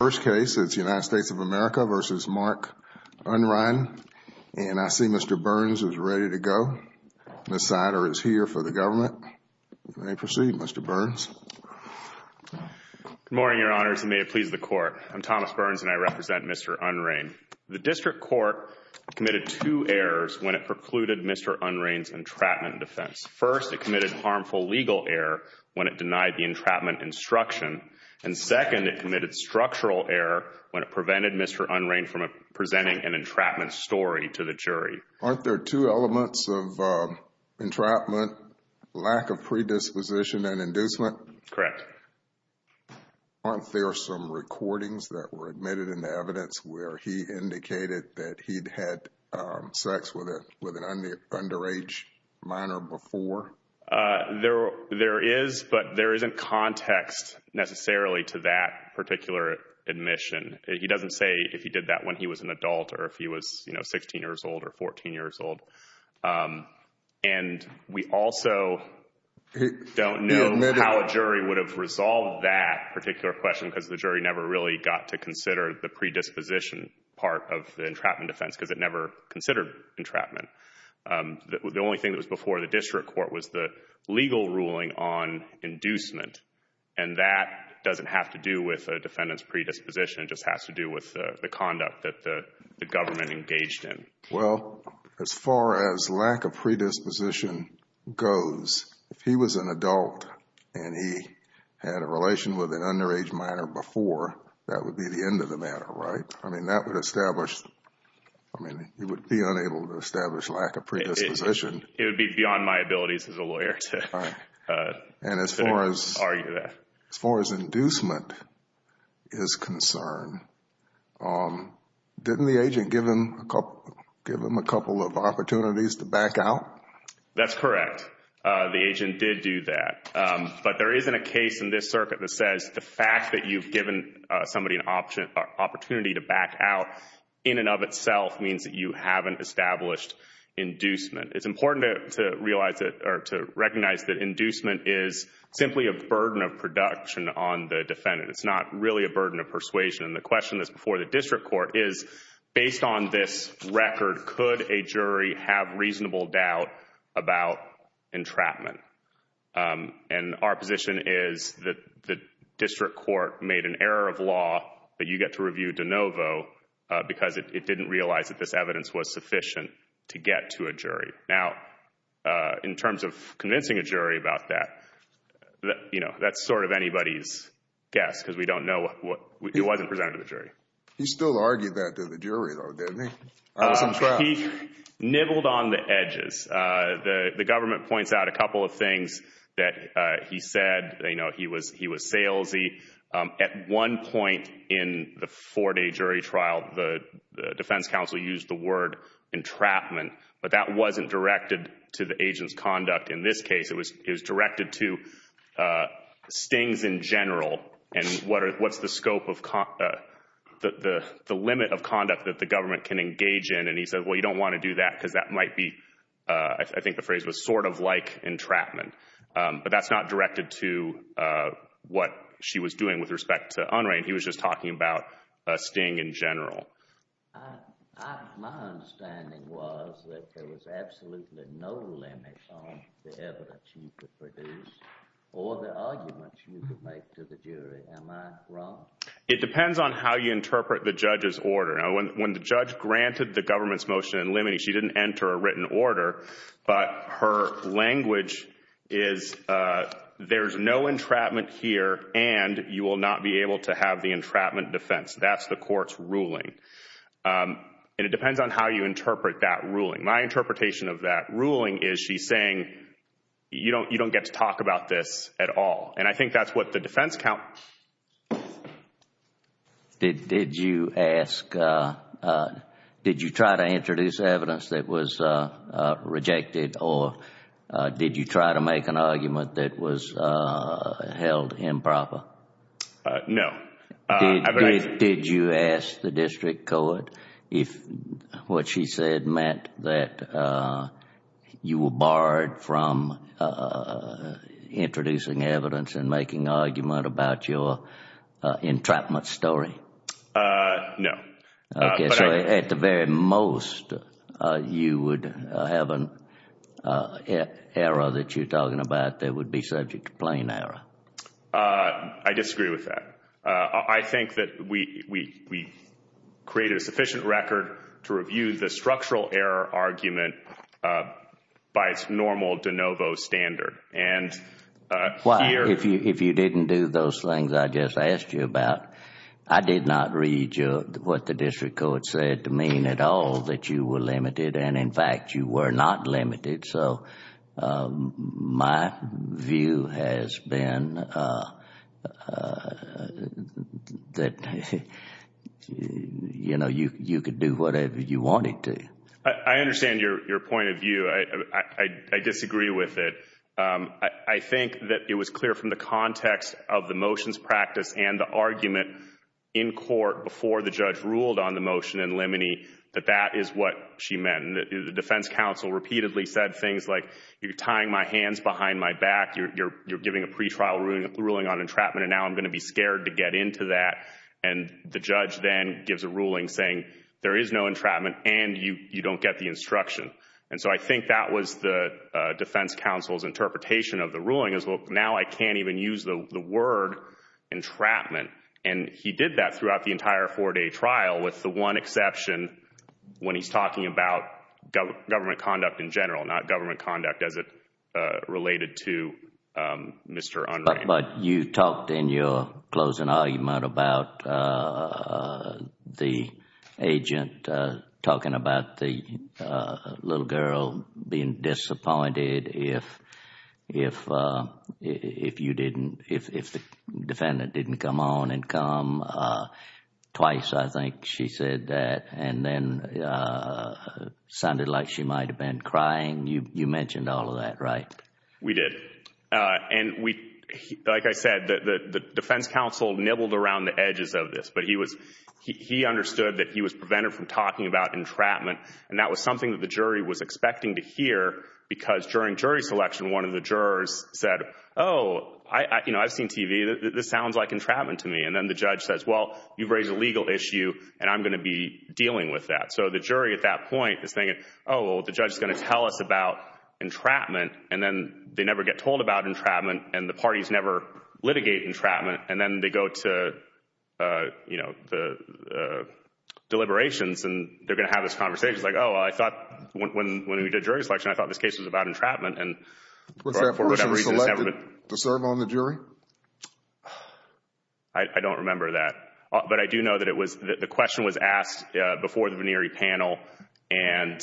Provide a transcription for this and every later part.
First case is United States of America v. Mark Unrein, and I see Mr. Burns is ready to go. Ms. Sider is here for the government. May I proceed, Mr. Burns? Good morning, Your Honors, and may it please the Court. I'm Thomas Burns, and I represent Mr. Unrein. The District Court committed two errors when it precluded Mr. Unrein's entrapment defense. First, it committed a harmful legal error when it denied the entrapment instruction, and second, it committed structural error when it prevented Mr. Unrein from presenting an entrapment story to the jury. Aren't there two elements of entrapment? Lack of predisposition and inducement? Correct. Aren't there some recordings that were admitted in the evidence where he indicated that he'd had sex with an underage minor before? There is, but there isn't context necessarily to that particular admission. He doesn't say if he did that when he was an adult or if he was, you know, 16 years old or 14 years old. And we also don't know how a jury would have resolved that particular question because the jury never really got to consider the predisposition part of the entrapment defense because it never considered entrapment. The only thing that was before the District Court was the legal ruling on inducement. And that doesn't have to do with a defendant's predisposition, it just has to do with the conduct that the government engaged in. Well, as far as lack of predisposition goes, if he was an adult and he had a relation with an underage minor before, that would be the end of the matter, right? I mean, that would establish, I mean, you would be unable to establish lack of predisposition. It would be beyond my abilities as a lawyer to argue that. As far as inducement is concerned, didn't the agent give him a couple of opportunities to back out? That's correct. The agent did do that. But there isn't a case in this circuit that says the fact that you've given somebody an opportunity to back out in and of itself means that you haven't established inducement. It's important to realize or to recognize that inducement is simply a burden of production on the defendant. It's not really a burden of persuasion. And the question that's before the district court is, based on this record, could a jury have reasonable doubt about entrapment? And our position is that the district court made an error of law that you get to review de novo because it didn't realize that this evidence was sufficient to get to a jury. Now, in terms of convincing a jury about that, you know, that's sort of anybody's guess because we don't know. It wasn't presented to the jury. He still argued that to the jury, though, didn't he? He nibbled on the edges. The government points out a couple of things that he said. You know, he was salesy. At one point in the four-day jury trial, the defense counsel used the word entrapment, but that wasn't directed to the agent's conduct in this case. It was directed to stings in general and what's the scope of the limit of conduct that the government can engage in. And he said, well, you don't want to do that because that might be, I think the phrase was sort of like entrapment. But that's not directed to what she was doing with respect to Unrein. He was just talking about a sting in general. My understanding was that there was absolutely no limit on the evidence you could produce or the arguments you could make to the jury. Am I wrong? It depends on how you interpret the judge's order. When the judge granted the government's motion in limine, she didn't enter a written order. But her language is there's no entrapment here and you will not be able to have the entrapment defense. That's the court's ruling. And it depends on how you interpret that ruling. My interpretation of that ruling is she's saying you don't get to talk about this at all. And I think that's what the defense counsel. Did you ask, did you try to introduce evidence that was rejected or did you try to make an argument that was held improper? No. Did you ask the district court if what she said meant that you were barred from introducing evidence and making argument about your entrapment story? No. Okay. So at the very most, you would have an error that you're talking about that would be subject to plain error. I disagree with that. I think that we created a sufficient record to review the structural error argument by its normal de novo standard. And here If you didn't do those things I just asked you about, I did not read what the district court said to mean at all that you were limited. And in fact, you were not limited. So my view has been that, you know, you could do whatever you wanted to. I understand your point of view. I disagree with it. I think that it was clear from the context of the motions practice and the argument in court before the judge ruled on the motion in Limoney that that is what she meant. And the defense counsel repeatedly said things like you're tying my hands behind my back. You're giving a pretrial ruling on entrapment and now I'm going to be scared to get into that. And the judge then gives a ruling saying there is no entrapment and you don't get the instruction. And so I think that was the defense counsel's interpretation of the ruling as well. Now I can't even use the word entrapment. And he did that throughout the entire four day trial with the one exception when he's talking about government conduct in general, not government conduct as it related to Mr. Unrein. But you talked in your closing argument about the agent talking about the little girl being disappointed if you didn't, if the defendant didn't come on and come twice. I think she said that and then sounded like she might have been crying. You mentioned all of that, right? We did. And like I said, the defense counsel nibbled around the edges of this. But he understood that he was prevented from talking about entrapment. And that was something that the jury was expecting to hear because during jury selection, one of the jurors said, oh, I've seen TV. This sounds like entrapment to me. And then the judge says, well, you've raised a legal issue and I'm going to be dealing with that. So the jury at that point is thinking, oh, well, the judge is going to tell us about entrapment. And then they never get told about entrapment and the parties never litigate entrapment. And then they go to, you know, the deliberations and they're going to have this conversation. Like, oh, I thought when we did jury selection, I thought this case was about entrapment. Was that person selected to serve on the jury? I don't remember that. But I do know that it was, the question was asked before the Venieri panel. And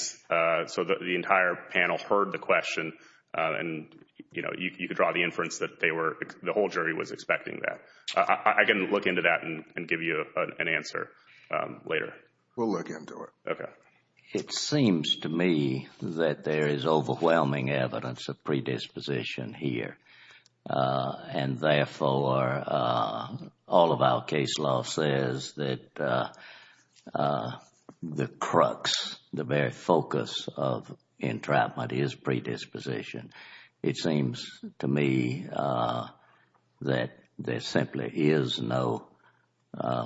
so the entire panel heard the question. And, you know, you could draw the inference that they were, the whole jury was expecting that. I can look into that and give you an answer later. We'll look into it. Okay. It seems to me that there is overwhelming evidence of predisposition here. And therefore, all of our case law says that the crux, the very focus of entrapment is predisposition. It seems to me that there simply is no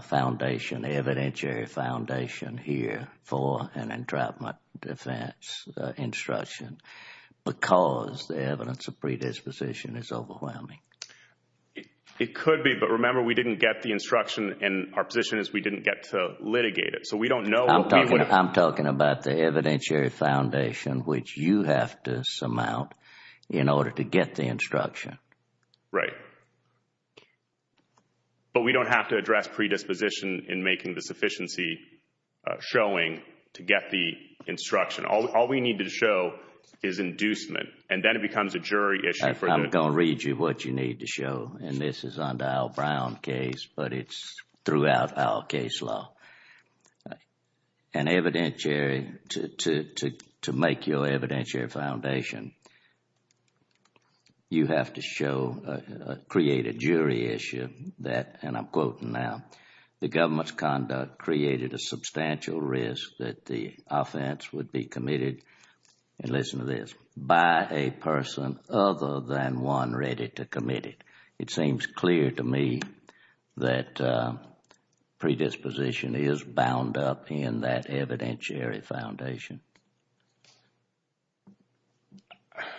foundation, evidentiary foundation here for an entrapment defense instruction. Because the evidence of predisposition is overwhelming. It could be. But remember, we didn't get the instruction and our position is we didn't get to litigate it. So we don't know. I'm talking about the evidentiary foundation, which you have to surmount in order to get the instruction. Right. But we don't have to address predisposition in making the sufficiency showing to get the instruction. All we need to show is inducement. And then it becomes a jury issue. I'm going to read you what you need to show. And this is under our Brown case, but it's throughout our case law. An evidentiary, to make your evidentiary foundation, you have to show, create a jury issue that, and I'm quoting now, the government's conduct created a substantial risk that the offense would be committed, and listen to this, by a person other than one ready to commit it. It seems clear to me that predisposition is bound up in that evidentiary foundation.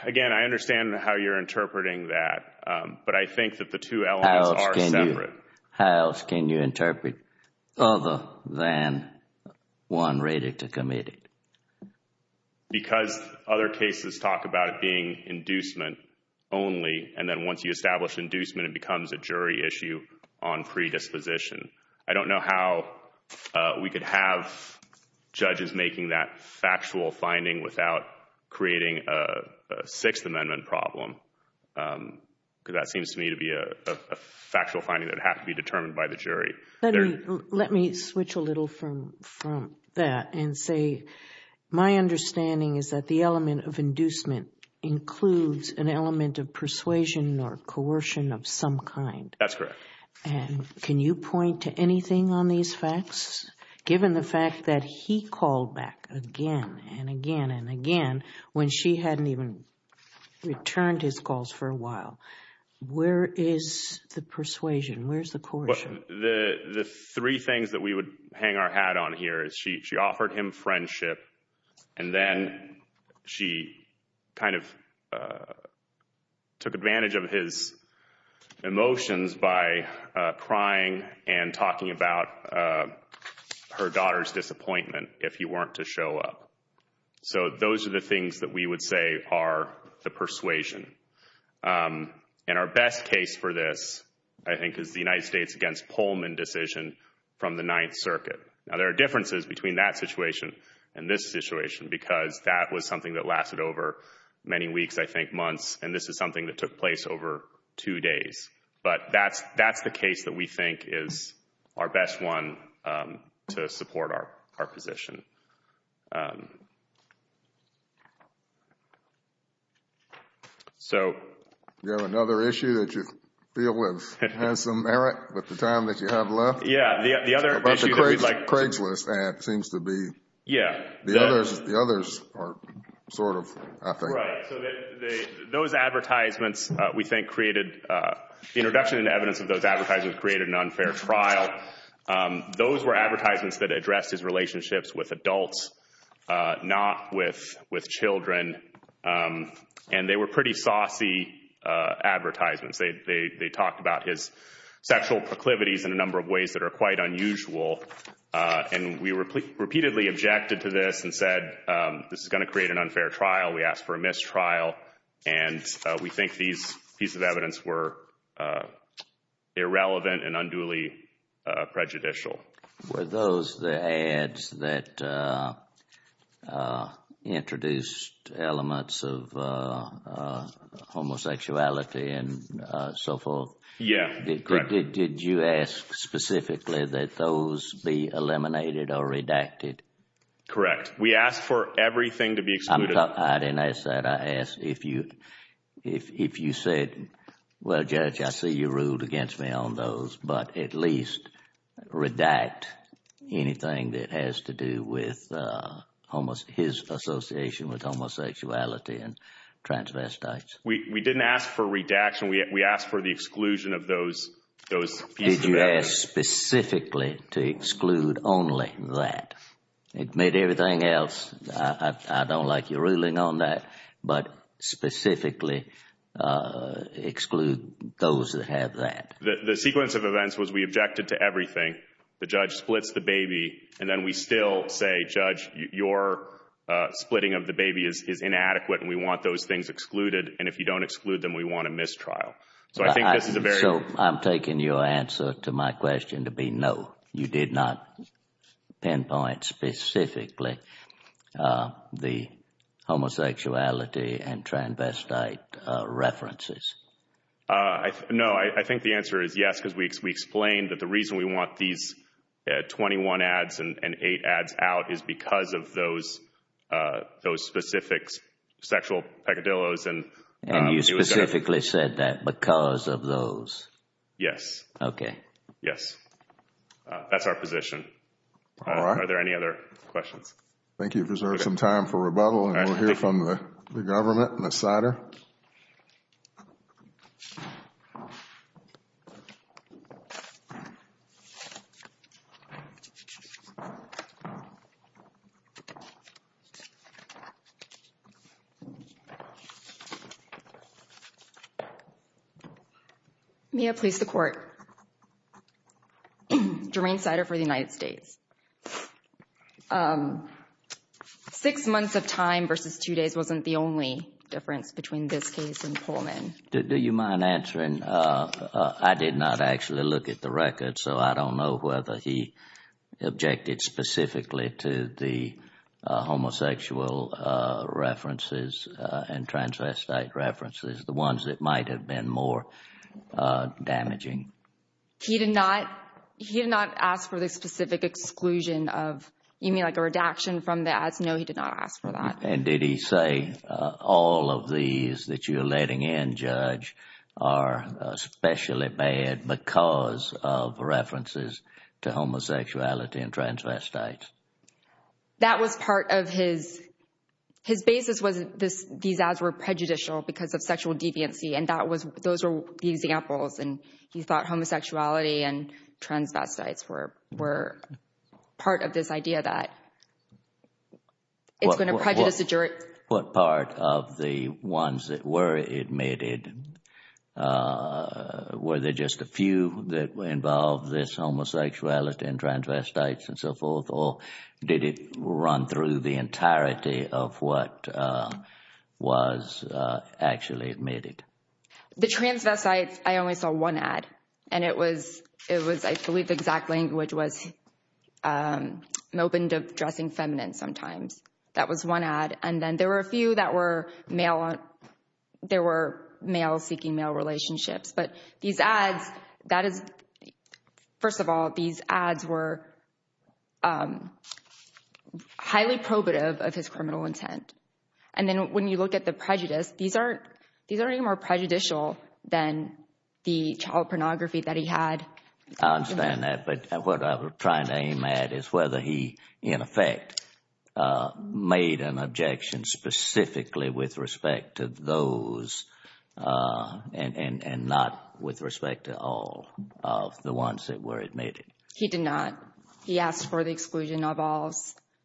Again, I understand how you're interpreting that, but I think that the two elements are separate. How else can you interpret other than one ready to commit it? Because other cases talk about it being inducement only, and then once you establish inducement, it becomes a jury issue on predisposition. I don't know how we could have judges making that factual finding without creating a Sixth Amendment problem. Because that seems to me to be a factual finding that would have to be determined by the jury. Let me switch a little from that and say my understanding is that the element of inducement includes an element of persuasion or coercion of some kind. That's correct. Can you point to anything on these facts, given the fact that he called back again and again and again when she hadn't even returned his calls for a while? Where is the persuasion? Where's the coercion? The three things that we would hang our hat on here is she offered him friendship, and then she kind of took advantage of his emotions by crying and talking about her daughter's disappointment if he weren't to show up. So those are the things that we would say are the persuasion. And our best case for this, I think, is the United States against Pullman decision from the Ninth Circuit. Now there are differences between that situation and this situation, because that was something that lasted over many weeks, I think months, and this is something that took place over two days. But that's the case that we think is our best one to support our position. You have another issue that you feel has some merit with the time that you have left? Yeah. About the Craigslist ad, it seems to be. Yeah. The others are sort of, I think. Right. So those advertisements, we think, created—the introduction into evidence of those advertisements created an unfair trial. Those were advertisements that addressed his relationships with adults, not with children. And they were pretty saucy advertisements. They talked about his sexual proclivities in a number of ways that are quite unusual. And we repeatedly objected to this and said, this is going to create an unfair trial. We asked for a mistrial. And we think these pieces of evidence were irrelevant and unduly prejudicial. Were those the ads that introduced elements of homosexuality and so forth? Yeah, correct. Did you ask specifically that those be eliminated or redacted? Correct. We asked for everything to be excluded. I didn't ask that. I asked if you said, well, Judge, I see you ruled against me on those, but at least redact anything that has to do with his association with homosexuality and transvestites. We didn't ask for redaction. We asked for the exclusion of those pieces of evidence. Did you ask specifically to exclude only that? Admit everything else. I don't like your ruling on that. But specifically exclude those that have that. The sequence of events was we objected to everything. The judge splits the baby. And then we still say, Judge, your splitting of the baby is inadequate. And we want those things excluded. And if you don't exclude them, we want a mistrial. So I think this is a very So I'm taking your answer to my question to be no. You did not pinpoint specifically the homosexuality and transvestite references? No. I think the answer is yes, because we explained that the reason we want these 21 ads and 8 ads out is because of those specific sexual peccadilloes. And you specifically said that because of those? Yes. Okay. Yes. That's our position. All right. Are there any other questions? I think you've reserved some time for rebuttal. And we'll hear from the government and the cider. Okay. May I please the court? Jermaine Cider for the United States. Six months of time versus two days wasn't the only difference between this case and Pullman. Do you mind answering? I did not actually look at the record, so I don't know whether he objected specifically to the homosexual references and transvestite references, the ones that might have been more damaging. He did not ask for the specific exclusion of, you mean like a redaction from the ads? No, he did not ask for that. And did he say all of these that you're letting in, Judge, are especially bad because of references to homosexuality and transvestites? That was part of his, his basis was these ads were prejudicial because of sexual deviancy. And that was, those were the examples. And he thought homosexuality and transvestites were part of this idea that it's going to prejudice the jury. What part of the ones that were admitted, were there just a few that involved this homosexuality and transvestites and so forth, or did it run through the entirety of what was actually admitted? The transvestites, I only saw one ad. And it was, it was, I believe the exact link, which was Melvin dressing feminine sometimes. That was one ad. And then there were a few that were male, there were males seeking male relationships. But these ads, that is, first of all, these ads were highly probative of his criminal intent. And then when you look at the prejudice, these aren't, these aren't any more prejudicial than the child pornography that he had. I understand that. But what I was trying to aim at is whether he, in effect, made an objection specifically with respect to those and not with respect to all of the ones that were admitted. He did not. He asked for the exclusion of all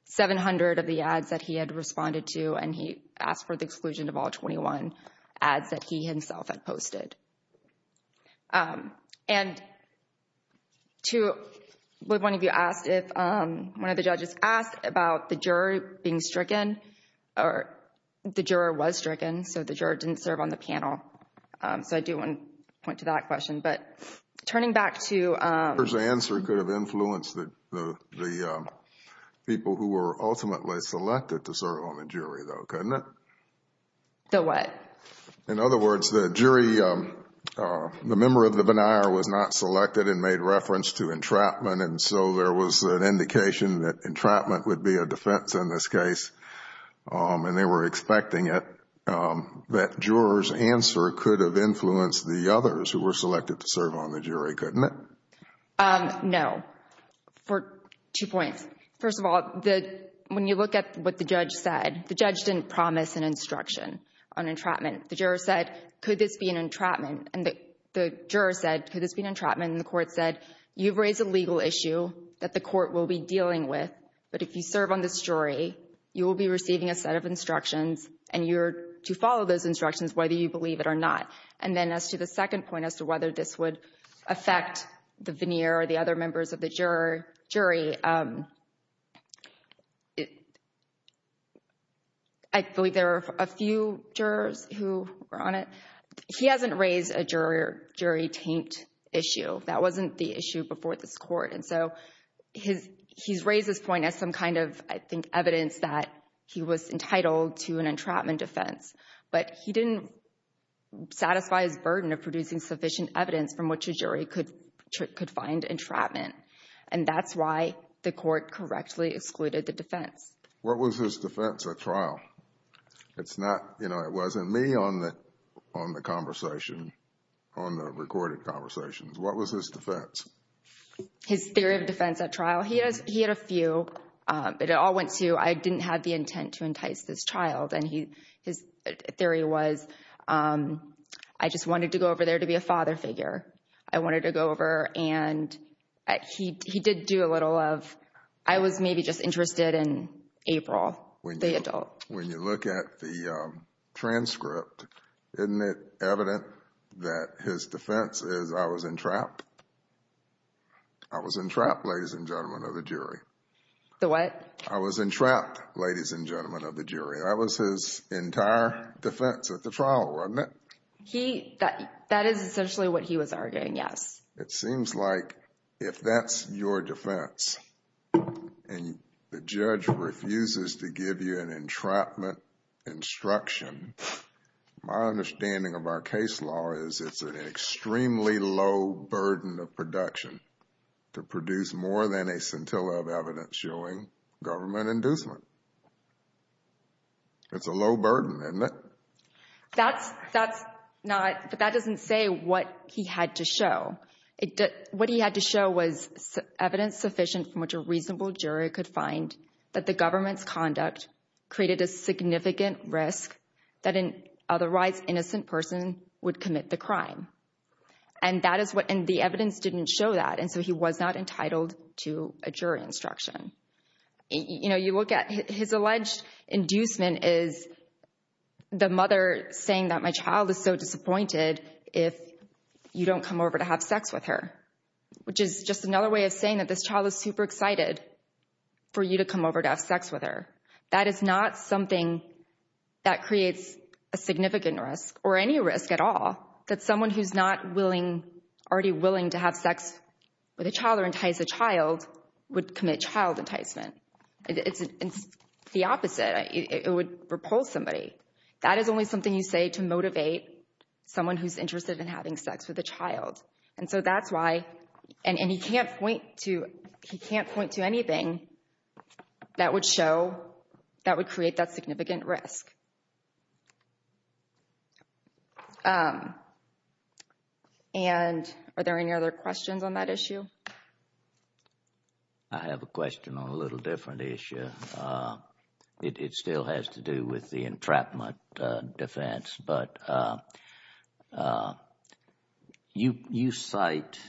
700 of the ads that he had responded to, and he asked for the exclusion of all 21 ads that he himself had posted. And to, one of you asked if, one of the judges asked about the juror being stricken, or the juror was stricken, so the juror didn't serve on the panel. So I do want to point to that question. But turning back to... The juror's answer could have influenced the people who were ultimately selected to serve on the jury, though, couldn't it? The what? In other words, the jury, the member of the benaire was not selected and made reference to entrapment. And so there was an indication that entrapment would be a defense in this case. And they were expecting it, that juror's answer could have influenced the others who were selected to serve on the jury, couldn't it? No. For two points. First of all, when you look at what the judge said, the judge didn't promise an instruction on entrapment. The juror said, could this be an entrapment? And the juror said, could this be an entrapment? And the court said, you've raised a legal issue that the court will be dealing with, but if you serve on this jury, you will be receiving a set of instructions and you're to follow those instructions whether you believe it or not. And then as to the second point as to whether this would affect the veneer or the other members of the jury, I believe there are a few jurors who were on it. He hasn't raised a jury taint issue. That wasn't the issue before this court. And so he's raised this point as some kind of, I think, evidence that he was entitled to an entrapment defense. But he didn't satisfy his burden of producing sufficient evidence from which a jury could find entrapment. And that's why the court correctly excluded the defense. What was his defense at trial? It's not, you know, it wasn't me on the conversation, on the recorded conversations. What was his defense? His theory of defense at trial, he had a few, but it all went to, I didn't have the intent to entice this child. And his theory was, I just wanted to go over there to be a father figure. I wanted to go over and he did do a little of, I was maybe just interested in April, the adult. When you look at the transcript, isn't it evident that his defense is I was entrapped? I was entrapped, ladies and gentlemen of the jury. The what? I was entrapped, ladies and gentlemen of the jury. That was his entire defense at the trial, wasn't it? He, that is essentially what he was arguing, yes. It seems like if that's your defense and the judge refuses to give you an entrapment instruction, my understanding of our case law is it's an extremely low burden of production to produce more than a scintilla of evidence showing government inducement. It's a low burden, isn't it? That's not, but that doesn't say what he had to show. What he had to show was evidence sufficient from which a reasonable jury could find that the government's conduct created a significant risk that an otherwise innocent person would commit the crime. And that is what, and the evidence didn't show that. And so he was not entitled to a jury instruction. You know, you look at his alleged inducement is the mother saying that my child is so disappointed if you don't come over to have sex with her, which is just another way of saying that this child is super excited for you to come over to have sex with her. That is not something that creates a significant risk or any risk at all that someone who's not willing, already willing to have sex with a child or entice a child would commit child enticement. It's the opposite. It would repulse somebody. That is only something you say to motivate someone who's interested in having sex with a child. And so that's why, and he can't point to anything that would show, that would create that significant risk. And are there any other questions on that issue? I have a question on a little different issue. It still has to do with the entrapment defense, but you cite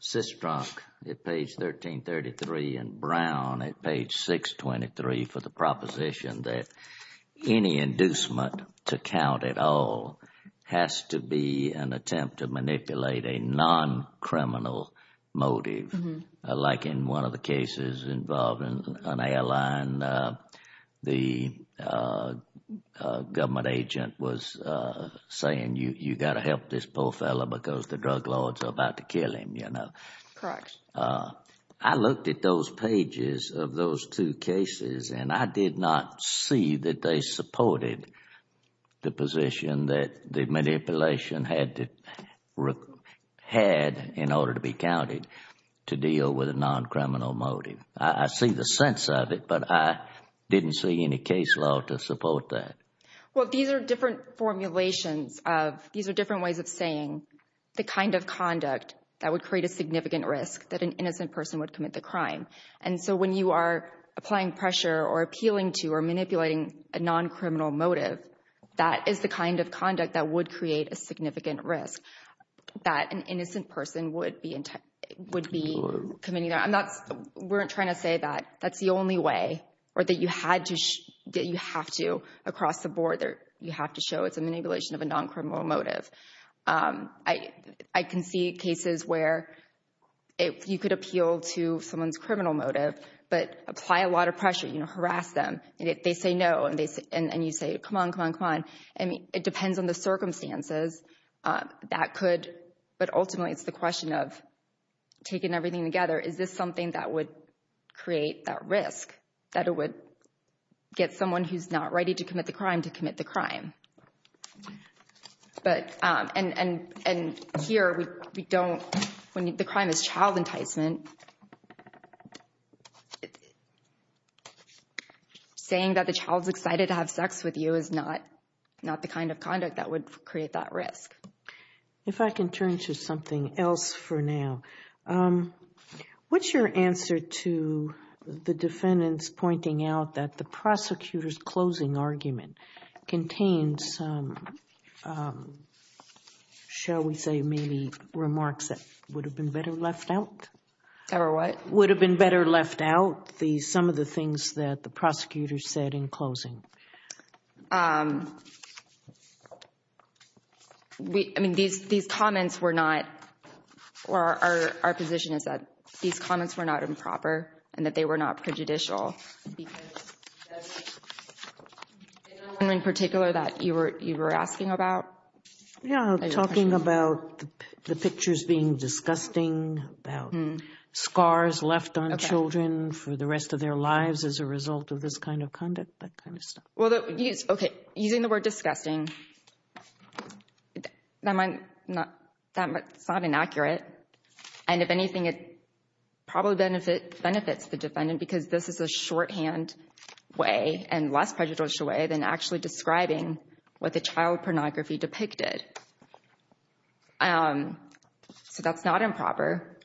Sistronk at page 1333 and Brown at page 623 for the proposition that any inducement to count at all has to be an attempt to manipulate a non-criminal motive. Like in one of the cases involving an airline, the government agent was saying, you've got to help this poor fellow because the drug lords are about to kill him, you know. Correct. I looked at those pages of those two cases and I did not see that they supported the position that the manipulation had in order to be counted to deal with a non-criminal motive. I see the sense of it, but I didn't see any case law to support that. Well, these are different formulations of, these are different ways of saying the kind of conduct that would create a significant risk that an innocent person would commit the crime. And so when you are applying pressure or appealing to or manipulating a non-criminal motive, that is the kind of conduct that would create a significant risk that an innocent person would be committing. We're not trying to say that that's the only way or that you have to across the board, you have to show it's a manipulation of a non-criminal motive. I can see cases where you could appeal to someone's criminal motive, but apply a lot of pressure, you know, harass them. They say no and you say, come on, come on, come on. I mean, it depends on the circumstances that could, but ultimately it's the question of taking everything together. Is this something that would create that risk, that it would get someone who's not ready to commit the crime to commit the crime? But, and here we don't, when the crime is child enticement, saying that the child's excited to have sex with you is not the kind of conduct that would create that risk. If I can turn to something else for now. What's your answer to the defendants pointing out that the prosecutor's closing argument contains, shall we say, maybe remarks that would have been better left out? Or what? Would have been better left out, some of the things that the prosecutor said in closing. I mean, these comments were not, or our position is that these comments were not improper and that they were not prejudicial. Because, is there one in particular that you were asking about? Yeah, talking about the pictures being disgusting, about scars left on children for the rest of their lives as a result of this kind of conduct, that kind of stuff. Well, okay, using the word disgusting, that's not inaccurate. And if anything, it probably benefits the defendant because this is a shorthand way and less prejudicial way than actually describing what the child pornography depicted. So that's not improper.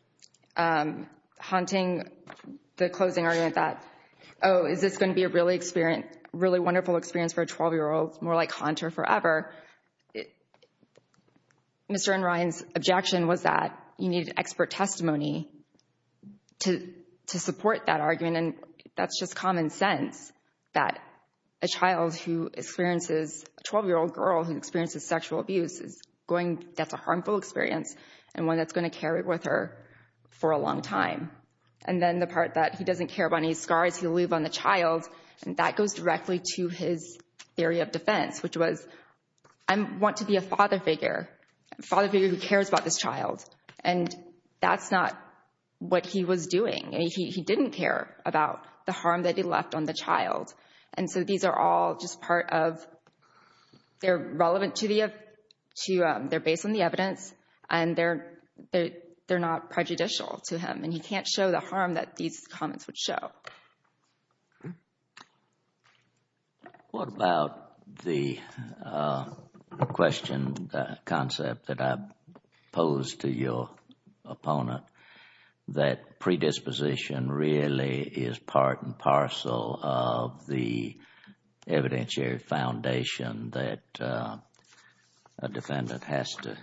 Haunting the closing argument that, oh, is this going to be a really wonderful experience for a 12-year-old? It's more like haunt her forever. Mr. Enright's objection was that you needed expert testimony to support that argument. And that's just common sense, that a child who experiences, a 12-year-old girl who experiences sexual abuse, that's a harmful experience and one that's going to carry with her for a long time. And then the part that he doesn't care about any scars he'll leave on the child, and that goes directly to his theory of defence, which was, I want to be a father figure, a father figure who cares about this child. And that's not what he was doing. He didn't care about the harm that he left on the child. And so these are all just part of, they're relevant to the, they're based on the evidence and they're not prejudicial to him. And he can't show the harm that these comments would show. What about the question, the concept that I posed to your opponent that predisposition really is part and parcel of the evidentiary foundation that a defendant has to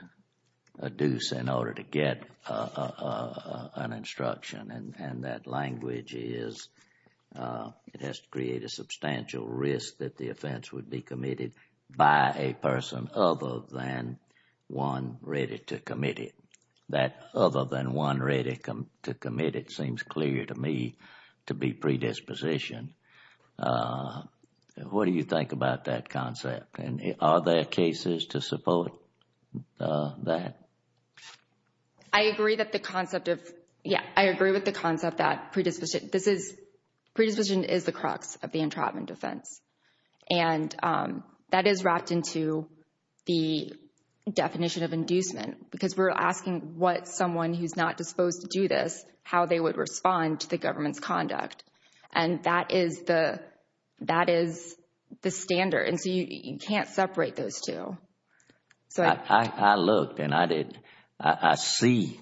adduce in order to get an instruction and that language is, it has to create a substantial risk that the offence would be committed by a person other than one ready to commit it. That other than one ready to commit it seems clear to me to be predisposition. What do you think about that concept? And are there cases to support that? I agree that the concept of, yeah, I agree with the concept that predisposition, this is, predisposition is the crux of the entrapment offense. And that is wrapped into the definition of inducement because we're asking what someone who's not disposed to do this, how they would respond to the government's conduct. And that is the, that is the standard. And so you can't separate those two. I looked and I did, I see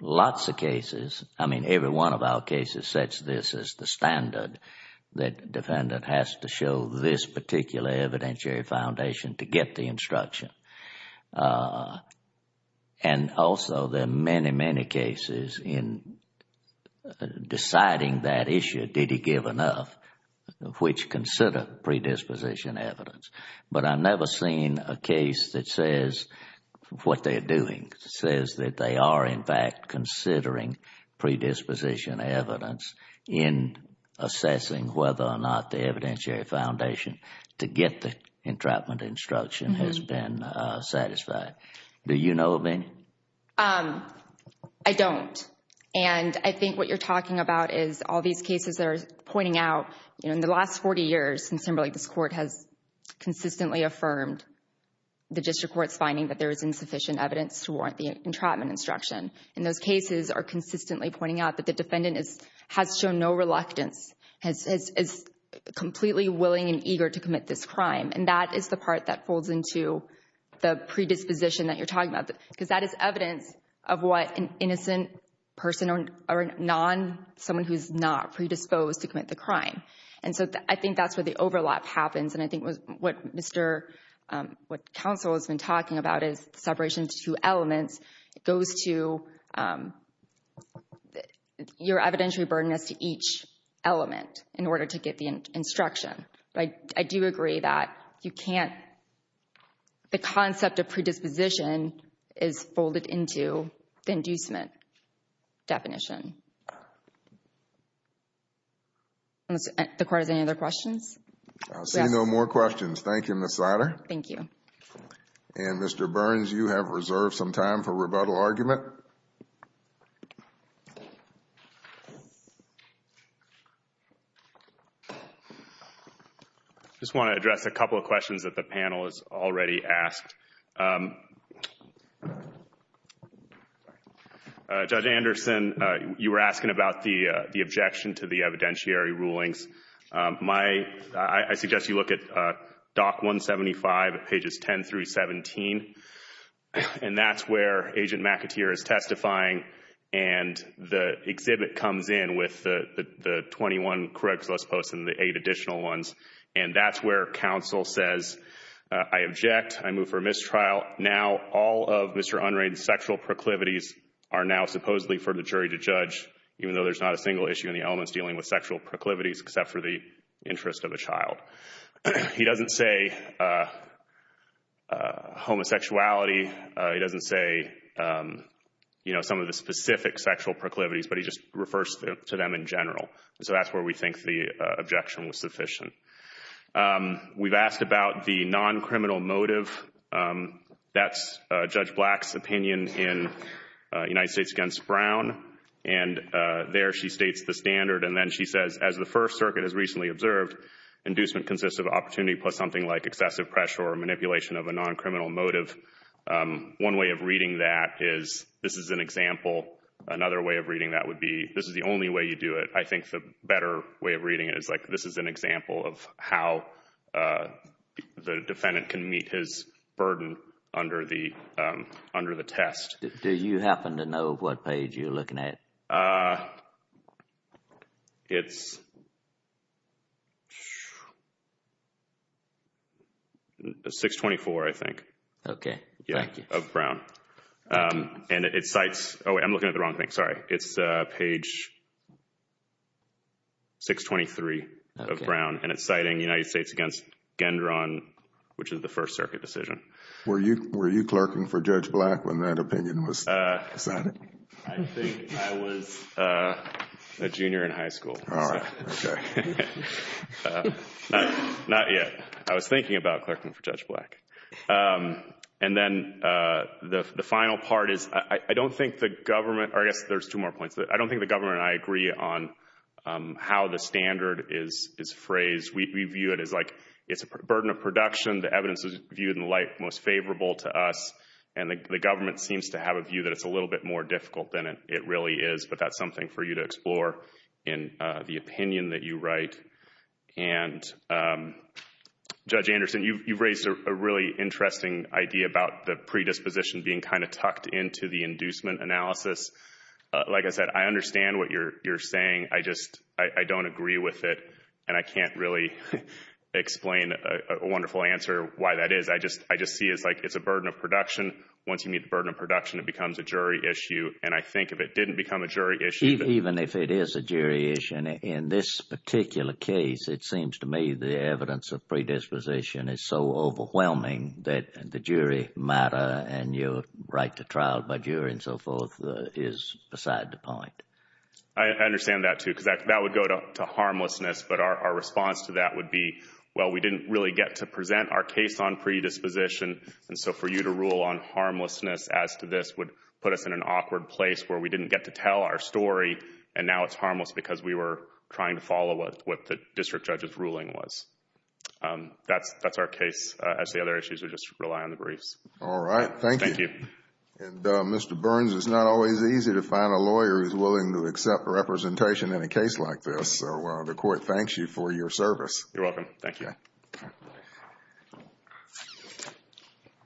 lots of cases. I mean, every one of our cases sets this as the standard that defendant has to show this particular evidentiary foundation to get the instruction. And also, there are many, many cases in deciding that issue, did he give enough, which consider predisposition evidence. But I've never seen a case that says what they're doing, says that they are, in fact, considering predisposition evidence in assessing whether or not the evidentiary foundation to get the entrapment instruction has been satisfied. Do you know of any? I don't. And I think what you're talking about is all these cases that are pointing out, you know, in the last 40 years since Timberlake, this court has consistently affirmed the district court's finding that there is insufficient evidence to warrant the entrapment instruction. And those cases are consistently pointing out that the defendant has shown no reluctance, is completely willing and eager to commit this crime. And that is the part that folds into the predisposition that you're talking about. Because that is evidence of what an innocent person or a non, someone who's not predisposed to commit the crime. And so I think that's where the overlap happens. And I think what Mr., what counsel has been talking about is the separation of two elements. It goes to your evidentiary burden as to each element in order to get the instruction. But I do agree that you can't, the concept of predisposition is folded into the inducement definition. Does the court have any other questions? I see no more questions. Thank you, Ms. Sider. Thank you. And Mr. Burns, you have reserved some time for rebuttal argument. I just want to address a couple of questions that the panel has already asked. Judge Anderson, you were asking about the objection to the evidentiary rulings. My, I suggest you look at Dock 175 at pages 10 through 17. And that's where Agent McAteer is testifying. And the exhibit comes in with the 21 correct list posts and the eight additional ones. And that's where counsel says, I object, I move for mistrial. Now all of Mr. Unright's sexual proclivities are now supposedly for the jury to judge, even though there's not a single issue in the elements dealing with sexual proclivities except for the interest of a child. He doesn't say homosexuality. He doesn't say, you know, some of the specific sexual proclivities, but he just refers to them in general. So that's where we think the objection was sufficient. We've asked about the non-criminal motive. That's Judge Black's opinion in United States v. Brown. And there she states the standard, and then she says, as the First Circuit has recently observed, inducement consists of opportunity plus something like excessive pressure or manipulation of a non-criminal motive. One way of reading that is, this is an example. Another way of reading that would be, this is the only way you do it. I think the better way of reading it is like, this is an example of how the defendant can meet his burden under the test. Do you happen to know what page you're looking at? Uh... It's... 624, I think. Okay, thank you. Yeah, of Brown. And it cites... Oh, I'm looking at the wrong thing, sorry. It's page... 623 of Brown, and it's citing United States v. Gendron, which is the First Circuit decision. Were you clerking for Judge Black when that opinion was cited? I think I was a junior in high school. Alright, okay. Not yet. I was thinking about clerking for Judge Black. And then the final part is, I don't think the government, or I guess there's two more points, I don't think the government and I agree on how the standard is phrased. We view it as like, it's a burden of production, the evidence is viewed in light most favorable to us, and the government seems to have a view that it's a little bit more difficult than it really is. But that's something for you to explore in the opinion that you write. And Judge Anderson, you've raised a really interesting idea about the predisposition being kind of tucked into the inducement analysis. Like I said, I understand what you're saying. I just don't agree with it, and I can't really explain a wonderful answer why that is. I just see it as like, it's a burden of production. Once you meet the burden of production, it becomes a jury issue. And I think if it didn't become a jury issue... Even if it is a jury issue, in this particular case, it seems to me the evidence of predisposition is so matter, and your right to trial by jury and so forth is beside the point. I understand that too, because that would go to harmlessness, but our response to that would be, well, we didn't really get to present our case on predisposition, and so for you to rule on harmlessness as to this would put us in an awkward place where we didn't get to tell our story, and now it's harmless because we were trying to follow what the district judge's ruling was. That's our case, as the other issues are just rely on the briefs. Alright, thank you. And Mr. Burns, it's not always easy to find a lawyer who's willing to accept representation in a case like this, so the court thanks you for your service. You're welcome. Thank you.